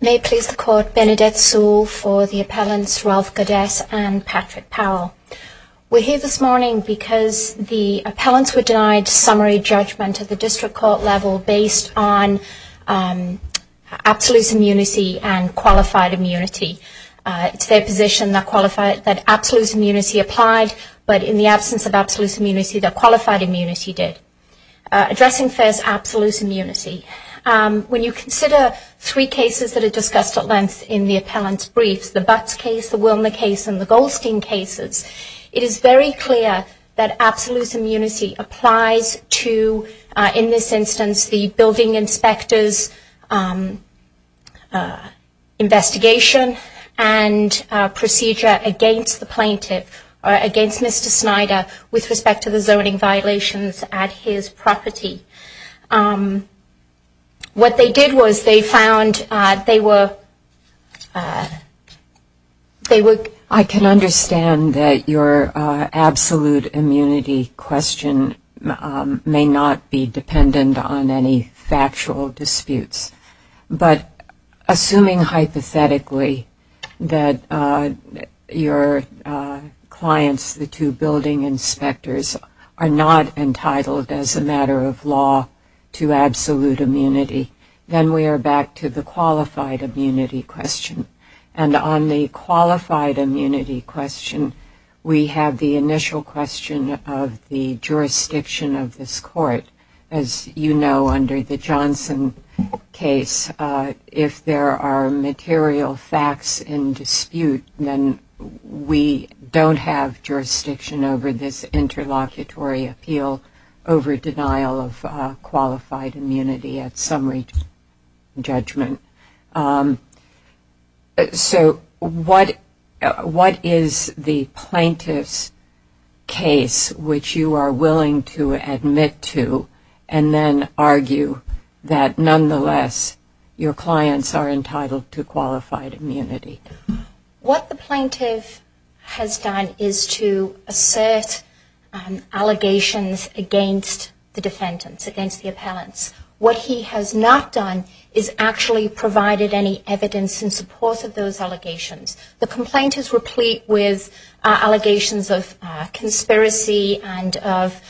May it please the Court, Benedette Sewell for the appellants Ralph Gaudet and Patrick We're here this morning because the appellants were denied summary judgment at the district court level based on absolutes immunity and qualified immunity. It's their position that absolutes immunity applied but in the absence of absolutes immunity that qualified immunity did. Addressing first absolutes immunity, when you consider three cases that are discussed at length in the appellants briefs the Butts case, the Wilner case and the Goldstein cases, it is very clear that absolutes immunity applies to in this instance the building inspectors investigation and procedure against the plaintiff or against Mr. Snyder with respect to zoning violations at his property. What they did was they found they were I can understand that your absolute immunity question may not be dependent on any factual disputes. But assuming hypothetically that your clients, the two building inspectors, are not entitled as a matter of law to absolute immunity, then we are back to the qualified immunity question. And on the qualified immunity question, we have the initial question of the jurisdiction of this court. As you know, under the Johnson case, if there are material facts in dispute, then we don't have jurisdiction over this interlocutory appeal over denial of qualified immunity at summary judgment. So what is the plaintiff's case which you are willing to admit to and then argue that nonetheless your clients are entitled to qualified immunity? What the plaintiff has done is to assert allegations against the defendants, against the appellants. What he has not done is actually provided any evidence in support of those allegations. The complaint is replete with allegations of conspiracy and of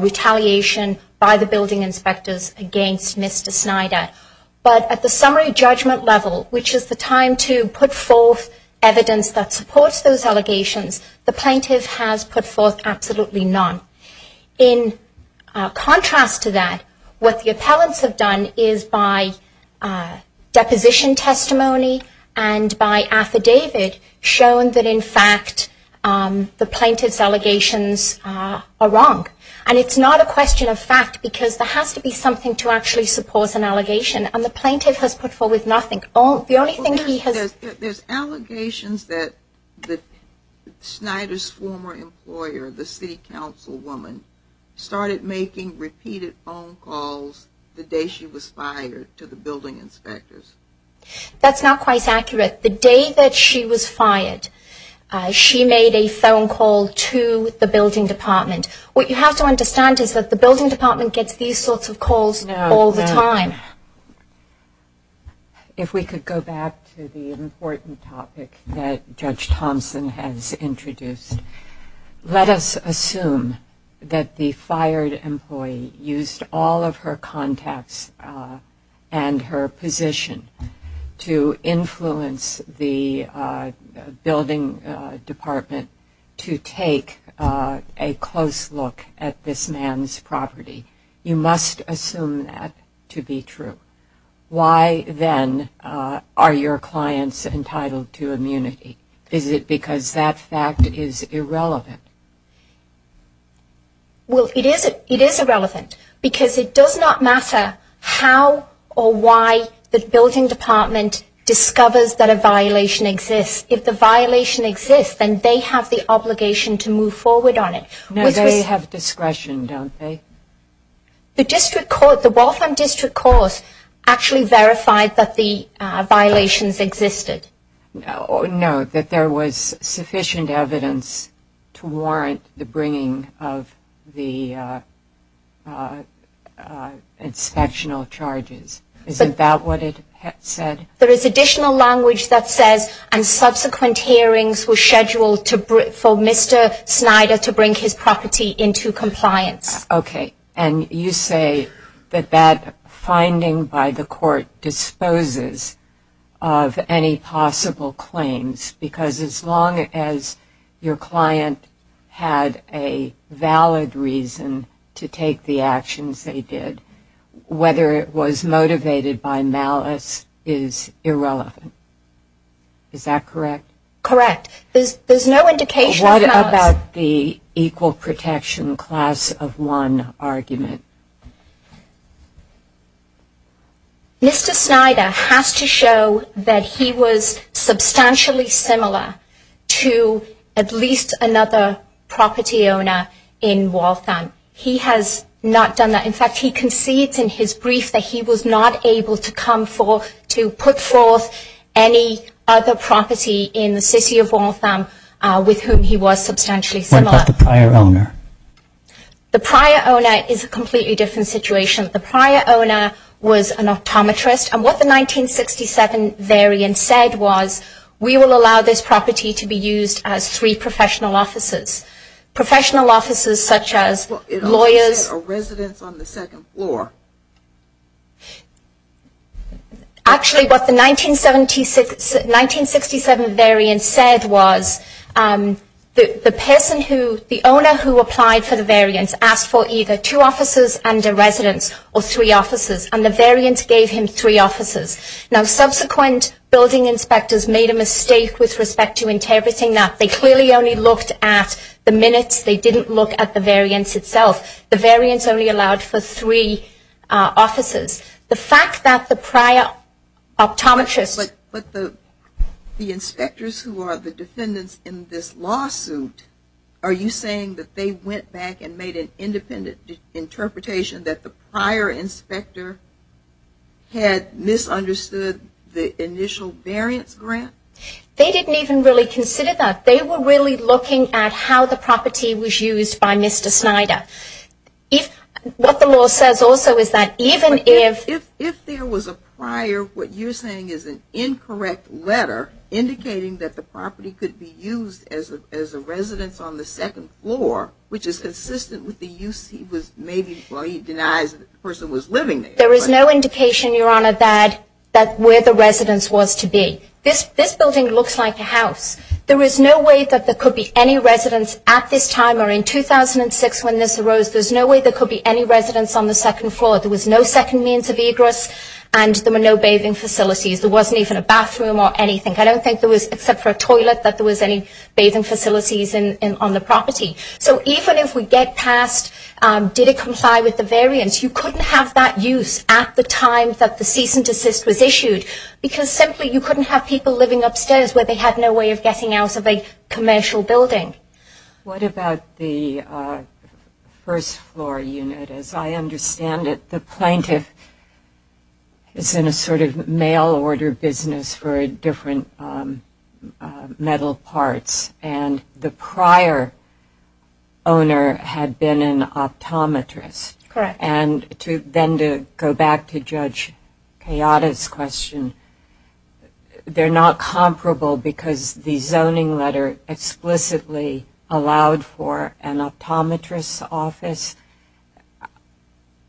retaliation by the building inspectors against Mr. Snyder. But at the summary judgment level, which is the time to put forth evidence that supports those allegations, the plaintiff has put forth absolutely none. In contrast to that, what the appellants have done is by deposition testimony and by affidavit shown that in fact the plaintiff's allegations are wrong. And it's not a question of fact because there has to be something to actually support an allegation. And the plaintiff has put forth nothing. There's allegations that Snyder's former employer, the city council woman, started making repeated phone calls the day she was fired to the building inspectors. That's not quite accurate. The day that she was fired, she made a phone call to the building department. What you have to understand is that the building department gets these sorts of calls all the time. If we could go back to the important topic that Judge Thompson has introduced, let us assume that the fired employee used all of her contacts and her position to influence the building department to take a close look at this man's property. You must assume that to be true. Why, then, are your clients entitled to immunity? Is it because that fact is irrelevant? Well, it is irrelevant because it does not matter how or why the building department discovers that a violation exists. If the violation exists, then they have the obligation to move forward on it. No, they have discretion, don't they? The district court, the Waltham District Court, actually verified that the violations existed. No, that there was sufficient evidence to warrant the bringing of the inspectional charges. Is that what it said? There is additional language that says, and subsequent hearings were scheduled for Mr. Snyder to bring his property into compliance. Okay. And you say that that finding by the court disposes of any possible claims because as long as your client had a valid reason to take the actions they did, whether it was motivated by malice is irrelevant. Is that correct? Correct. There's no indication of malice. What about the equal protection class of one argument? Mr. Snyder has to show that he was substantially similar to at least another property owner in Waltham. He has not done that. In fact, he concedes in his brief that he was not able to come forth to put forth any other property in Waltham. What about the prior owner? The prior owner is a completely different situation. The prior owner was an optometrist. And what the 1967 variant said was, we will allow this property to be used as three professional offices. Professional offices such as lawyers... And what the variant said was, the person who, the owner who applied for the variance asked for either two offices and a residence or three offices. And the variance gave him three offices. Now, subsequent building inspectors made a mistake with respect to interpreting that. They clearly only looked at the minutes. They didn't look at the variance itself. The variance only allowed for three offices. The fact that the prior optometrist... Now, if you are the defendants in this lawsuit, are you saying that they went back and made an independent interpretation that the prior inspector had misunderstood the initial variance grant? They didn't even really consider that. They were really looking at how the property was used by Mr. Snyder. What the law says also is that even if... I'm not sure what you're saying is an incorrect letter indicating that the property could be used as a residence on the second floor, which is consistent with the use he was maybe... Well, he denies that the person was living there. There is no indication, Your Honor, that where the residence was to be. This building looks like a house. There is no way that there could be any residence at this time or in 2006 when this arose. There's no way there could be any residence on the second floor. There was no second means of egress and there were no basements. There were no bathing facilities. There wasn't even a bathroom or anything. I don't think there was, except for a toilet, that there was any bathing facilities on the property. So even if we get past did it comply with the variance, you couldn't have that use at the time that the cease and desist was issued, because simply you couldn't have people living upstairs where they had no way of getting out of a commercial building. What about the first floor unit? As I understand it, the plaintiff is in a sort of condition where they can't get out of the first floor unit. Correct. And the prior owner had been an optometrist. Correct. And then to go back to Judge Kayada's question, they're not comparable because the zoning letter explicitly allowed for an optometrist's office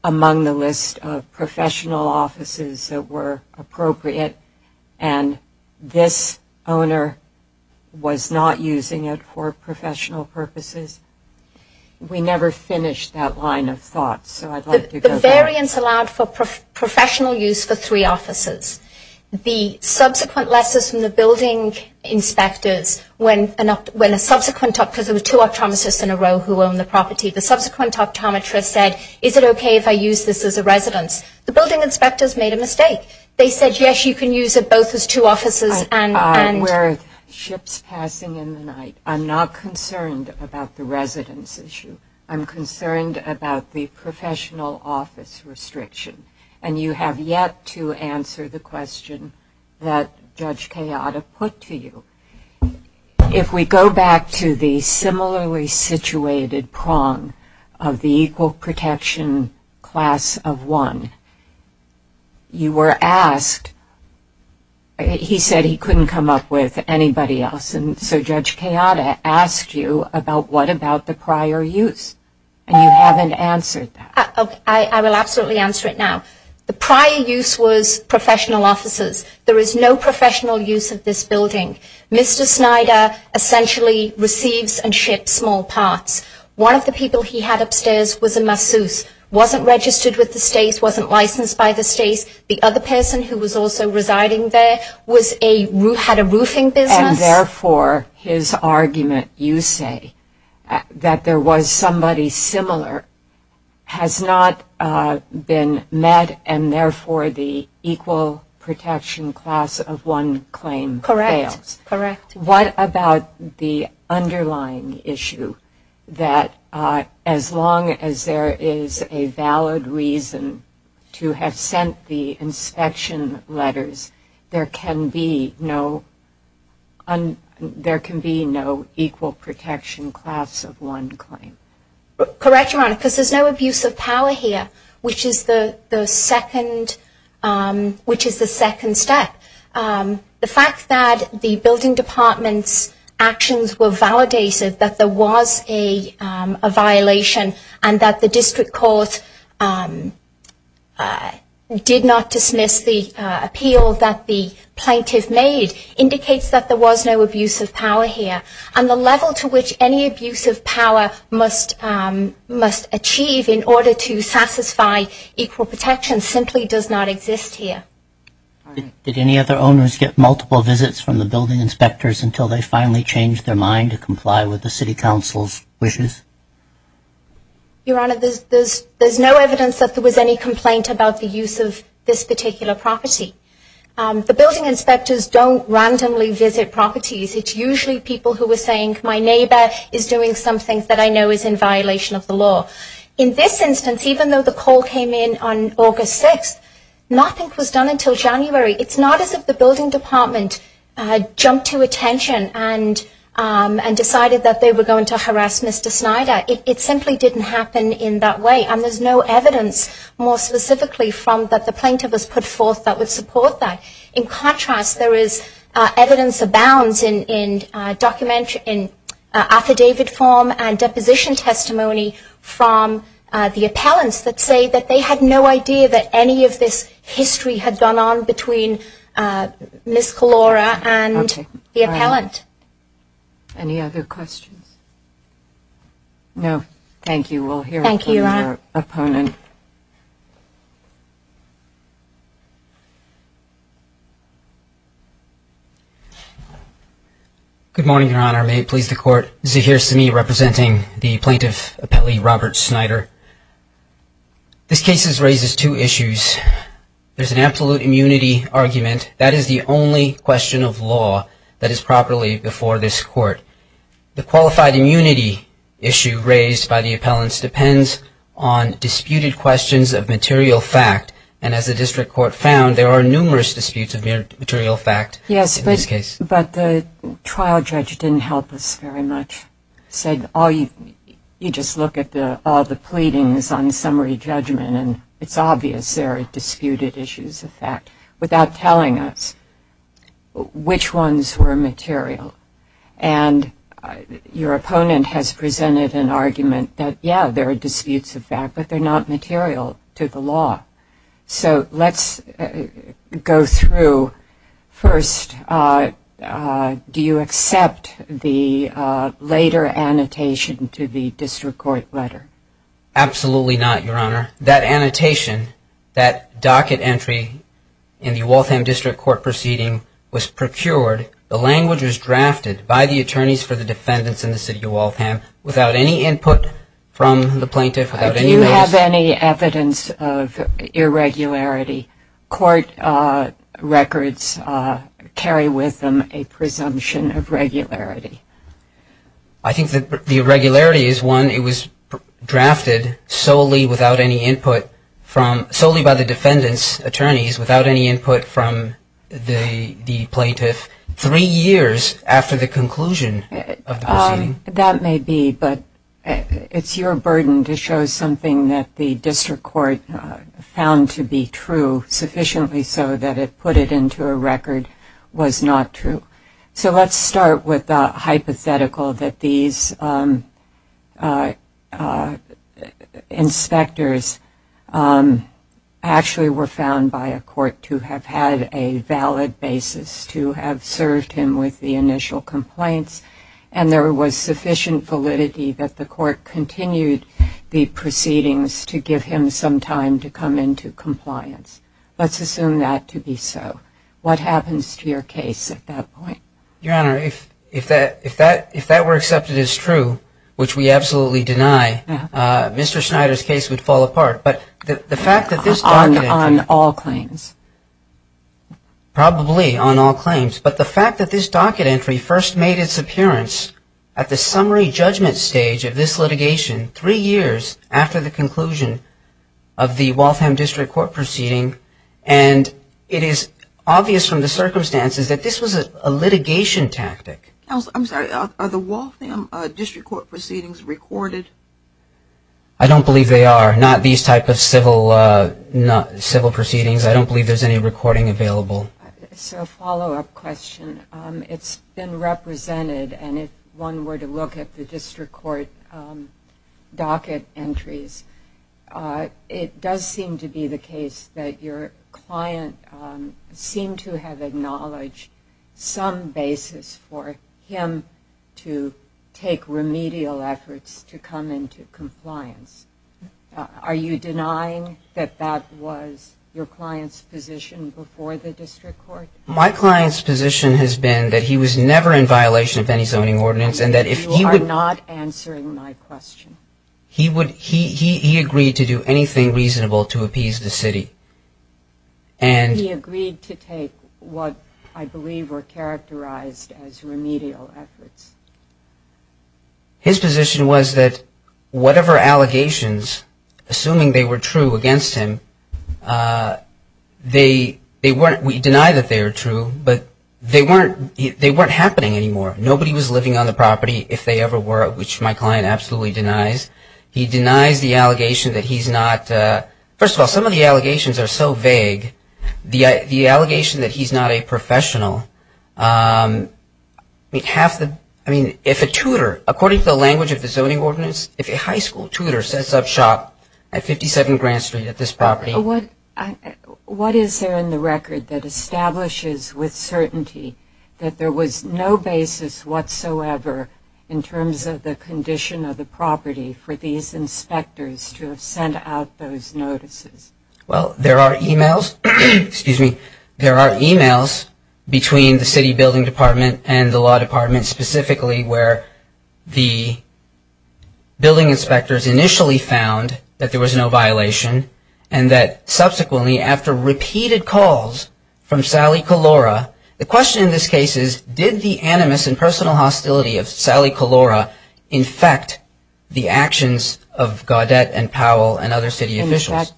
among the list of professional offices that were available. And this owner was not using it for professional purposes. We never finished that line of thought, so I'd like to go back. The variance allowed for professional use for three offices. The subsequent lessons from the building inspectors, when a subsequent optometrist, because there were two optometrists in a row who owned the property, the subsequent optometrist said, is it okay if I use this as a residence? The building inspectors made a mistake. They said, yes, you can use it both as two offices and... I'm aware of ships passing in the night. I'm not concerned about the residence issue. I'm concerned about the professional office restriction. And you have yet to answer the question that Judge Kayada put to you. If we go back to the similarly situated prong of the equal protection class of one, I'm not concerned about that. You were asked, he said he couldn't come up with anybody else, and so Judge Kayada asked you about what about the prior use. And you haven't answered that. I will absolutely answer it now. The prior use was professional offices. There is no professional use of this building. Mr. Snyder essentially receives and ships small parts. One of the people he had upstairs was a masseuse, wasn't registered with the states, wasn't licensed by the states. The other person who was also residing there had a roofing business. And therefore his argument, you say, that there was somebody similar, has not been met, and therefore the equal protection class of one claim fails. Correct. What about the underlying issue that as long as there is a valid reason to have sent the inspection letters, there can be no equal protection class of one claim? Correct, Your Honor, because there's no abuse of power here, which is the second step. The fact that the building department's actions were validated, that there was a violation, and that the district court did not dismiss the appeal that the plaintiff made, indicates that there was no abuse of power here. And the level to which any abuse of power must achieve in order to satisfy equal protection simply does not exist here. Did any other owners get multiple visits from the building inspectors until they finally changed their mind to comply with the city council's wishes? Your Honor, there's no evidence that there was any complaint about the use of this particular property. The building inspectors don't randomly visit properties. It's usually people who are saying, my neighbor is doing something that I know is in violation of the law. In this instance, even though the call came in on August 6th, nothing was done until January. It's not as if the building department jumped to attention and decided that they were going to harass Mr. Snyder. It simply didn't happen in that way, and there's no evidence more specifically from that the plaintiff has put forth that would support that. In contrast, there is evidence abounds in affidavit form and deposition testimony from the building inspectors. There is evidence from the appellants that say that they had no idea that any of this history had gone on between Ms. Kalora and the appellant. Any other questions? No. Thank you. Thank you, Your Honor. Good morning, Your Honor. May it please the Court, this is Zaheer Semih representing the plaintiff appellee Robert Snyder. This case raises two issues. First, there's an absolute immunity argument. That is the only question of law that is properly before this Court. The qualified immunity issue raised by the appellants depends on disputed questions of material fact, and as the district court found, there are numerous disputes of material fact in this case. Yes, but the trial judge didn't help us very much. He said, you just look at all the pleadings on summary judgment, and it's obvious there are disputed issues of fact, without telling us which ones were material. And your opponent has presented an argument that, yeah, there are disputes of fact, but they're not material to the law. So let's go through. First, do you accept the later annotation to the district court letter? Absolutely not, Your Honor. That annotation, that docket entry in the Waltham District Court proceeding was procured, the language was drafted by the attorneys for the defendants in the city of Waltham without any input from the plaintiff, without any notice. Do you have any evidence of irregularity? Court records carry with them a presumption of regularity. I think that the irregularity is one, it was drafted solely without any input from, solely by the defendants' attorneys, without any input from the plaintiff, three years after the conclusion of the proceeding. That may be, but it's your burden to show something that the district court found to be true, sufficiently so that it put it into a record was not true. So let's start with the hypothetical that these inspectors actually were found by a court to have had a valid basis, to have served him with the initial complaints, and there was sufficient evidence of that. There was sufficient validity that the court continued the proceedings to give him some time to come into compliance. Let's assume that to be so. What happens to your case at that point? Your Honor, if that were accepted as true, which we absolutely deny, Mr. Schneider's case would fall apart. On all claims? Probably on all claims. But the fact that this docket entry first made its appearance at the summary judgment stage of this litigation, three years after the conclusion of the Waltham District Court proceeding, and it is obvious from the circumstances that this was a litigation tactic. Counsel, I'm sorry, are the Waltham District Court proceedings recorded? I don't believe they are. Not these type of civil proceedings. I don't believe there's any recording available. So a follow-up question. It's been represented, and if one were to look at the district court docket entries, it does seem to be the case that your client seemed to have acknowledged some basis for him to take remedial efforts to come into compliance. Are you denying that that was your client's position before the district court? My client's position has been that he was never in violation of any zoning ordinance, and that if he would You are not answering my question. He agreed to do anything reasonable to appease the city. And he agreed to take what I believe were characterized as remedial efforts. His position was that whatever allegations, assuming they were true against him, they weren't We deny that they were true, but they weren't happening anymore. Nobody was living on the property, if they ever were, which my client absolutely denies. He denies the allegation that he's not First of all, some of the allegations are so vague. The allegation that he's not a professional, I mean, half the I mean, if a tutor, according to the language of the zoning ordinance, if a high school tutor sets up shop at 57 Grand Street at this property What is there in the record that establishes with certainty that there was no basis whatsoever in terms of the condition of the property for these inspectors to have sent out those notices? Well, there are e-mails, excuse me, there are e-mails between the city building department and the law department Specifically where the building inspectors initially found that there was no violation And that subsequently after repeated calls from Sally Calora, the question in this case is Did the animus and personal hostility of Sally Calora infect the actions of Gaudette and Powell and other city officials?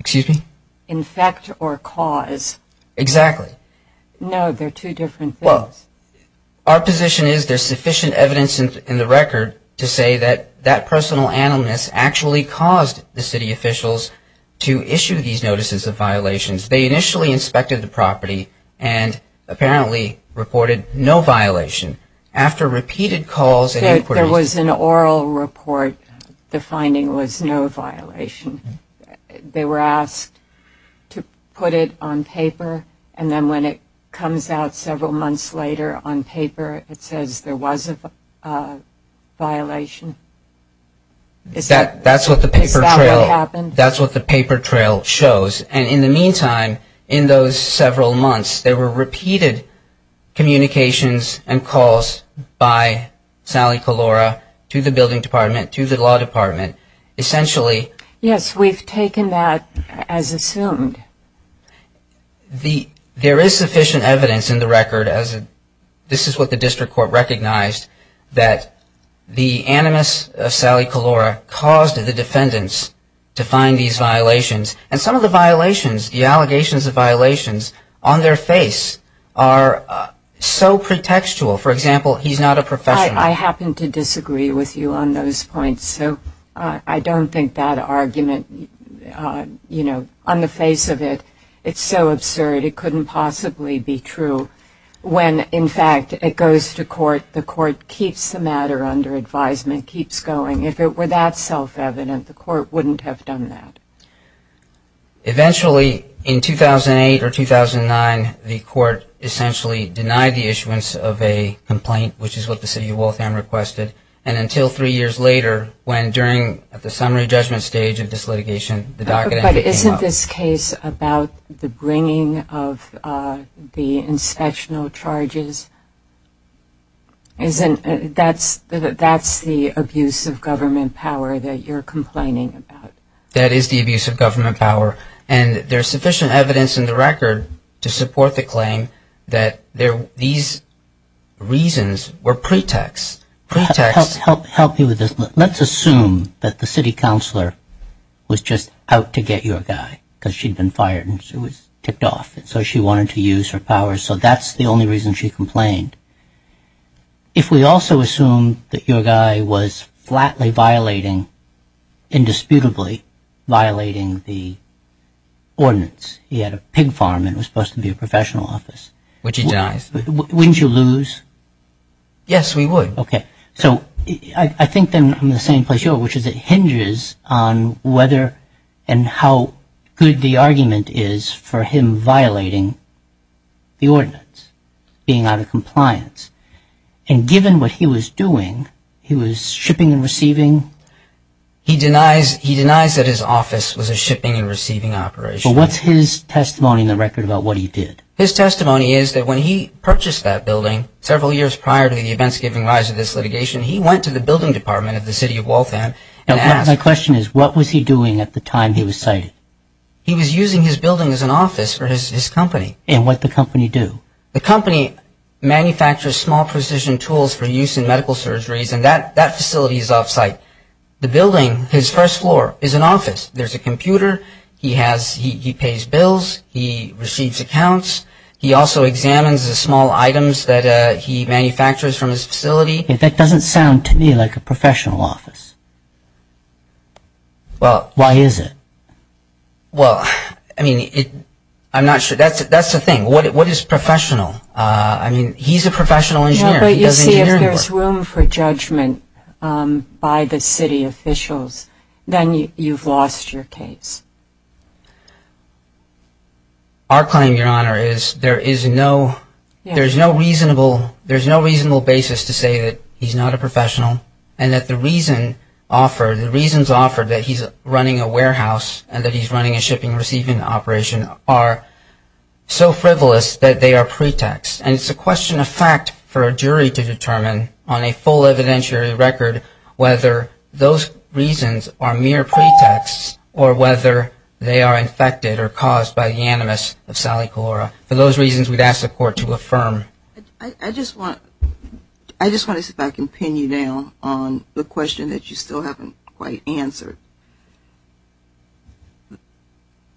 Excuse me? Infect or cause? Exactly. No, they're two different things. Well, our position is there's sufficient evidence in the record to say that that personal animus actually caused the city officials to issue these notices of violations. They initially inspected the property and apparently reported no violation. After repeated calls and inquiries There was an oral report, the finding was no violation. They were asked to put it on paper and then when it comes out several months later on paper it says there was a violation. Is that what happened? That's what the paper trail shows. And in the meantime, in those several months, there were repeated communications and calls by Sally Calora to the building department, to the law department. Yes, we've taken that as assumed. There is sufficient evidence in the record, this is what the district court recognized, that the animus of Sally Calora caused the defendants to find these violations. And some of the violations, the allegations of violations, on their face are so pretextual. For example, he's not a professional. I happen to disagree with you on those points, so I don't think that argument, you know, on the face of it, it's so absurd, it couldn't possibly be true. When, in fact, it goes to court, the court keeps the matter under advisement, keeps going. If it were that self-evident, the court wouldn't have done that. Eventually, in 2008 or 2009, the court essentially denied the issuance of a complaint, which is what the city of Waltham requested. And until three years later, when during the summary judgment stage of this litigation, the docket entry came up. But isn't this case about the bringing of the inspectional charges? That's the abuse of government power that you're complaining about. That is the abuse of government power. And there's sufficient evidence in the record to support the claim that these reasons were pretexts. Help me with this. Let's assume that the city counselor was just out to get your guy because she'd been fired and she was tipped off. And so she wanted to use her power. So that's the only reason she complained. If we also assume that your guy was flatly violating, indisputably violating the ordinance, he had a pig farm and it was supposed to be a professional office. Which he does. Wouldn't you lose? Yes, we would. Okay. So I think I'm in the same place you are, which is it hinges on whether and how good the argument is for him violating the ordinance, being out of compliance. And given what he was doing, he was shipping and receiving. He denies that his office was a shipping and receiving operation. But what's his testimony in the record about what he did? His testimony is that when he purchased that building several years prior to the events giving rise to this litigation, he went to the building department of the city of Waltham. And my question is, what was he doing at the time he was cited? He was using his building as an office for his company. And what the company do? The company manufactures small precision tools for use in medical surgeries. And that facility is off-site. The building, his first floor, is an office. There's a computer. He pays bills. He receives accounts. He also examines the small items that he manufactures from his facility. That doesn't sound to me like a professional office. Why is it? Well, I mean, I'm not sure. That's the thing. What is professional? I mean, he's a professional engineer. If there's room for judgment by the city officials, then you've lost your case. Our claim, Your Honor, is there is no reasonable basis to say that he's not a professional. And that the reason offered, the reasons offered that he's running a warehouse and that he's running a shipping receiving operation are so frivolous that they are pretexts. And it's a question of fact for a jury to determine on a full evidentiary record whether those reasons are mere pretexts or whether they are infected or caused by the animus of Sally Calora. For those reasons, we'd ask the court to affirm. I just want to see if I can pin you down on the question that you still haven't quite answered.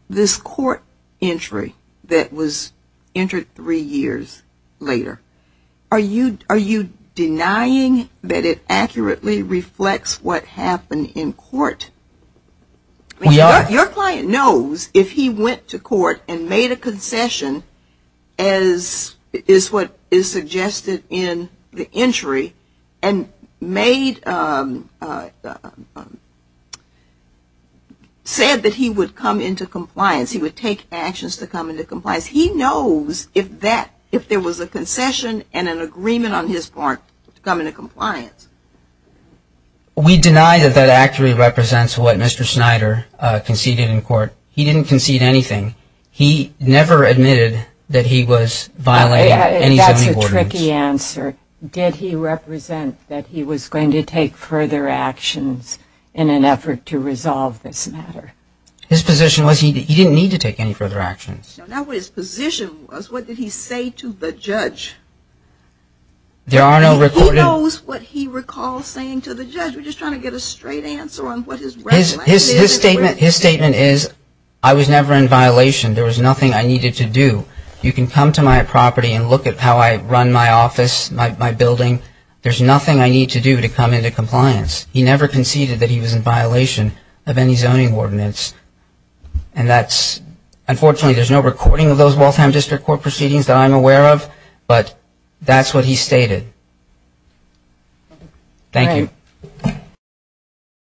This court entry that was entered three years later, are you denying that it accurately reflects what happened in court? Your client knows if he went to court and made a concession as is what is suggested in the entry and said that he would come into compliance, he would take actions to come into compliance. He knows if there was a concession and an agreement on his part to come into compliance. We deny that that accurately represents what Mr. Snyder conceded in court. He didn't concede anything. He never admitted that he was violating any zoning ordinance. That's a tricky answer. Did he represent that he was going to take further actions in an effort to resolve this matter? His position was he didn't need to take any further actions. Now what his position was, what did he say to the judge? He knows what he recalls saying to the judge. His statement is I was never in violation. There was nothing I needed to do. You can come to my property and look at how I run my office, my building. There's nothing I need to do to come into compliance. He never conceded that he was in violation of any zoning ordinance. Unfortunately, there's no recording of those Waltham District Court proceedings that I'm aware of, but that's what he stated. Thank you.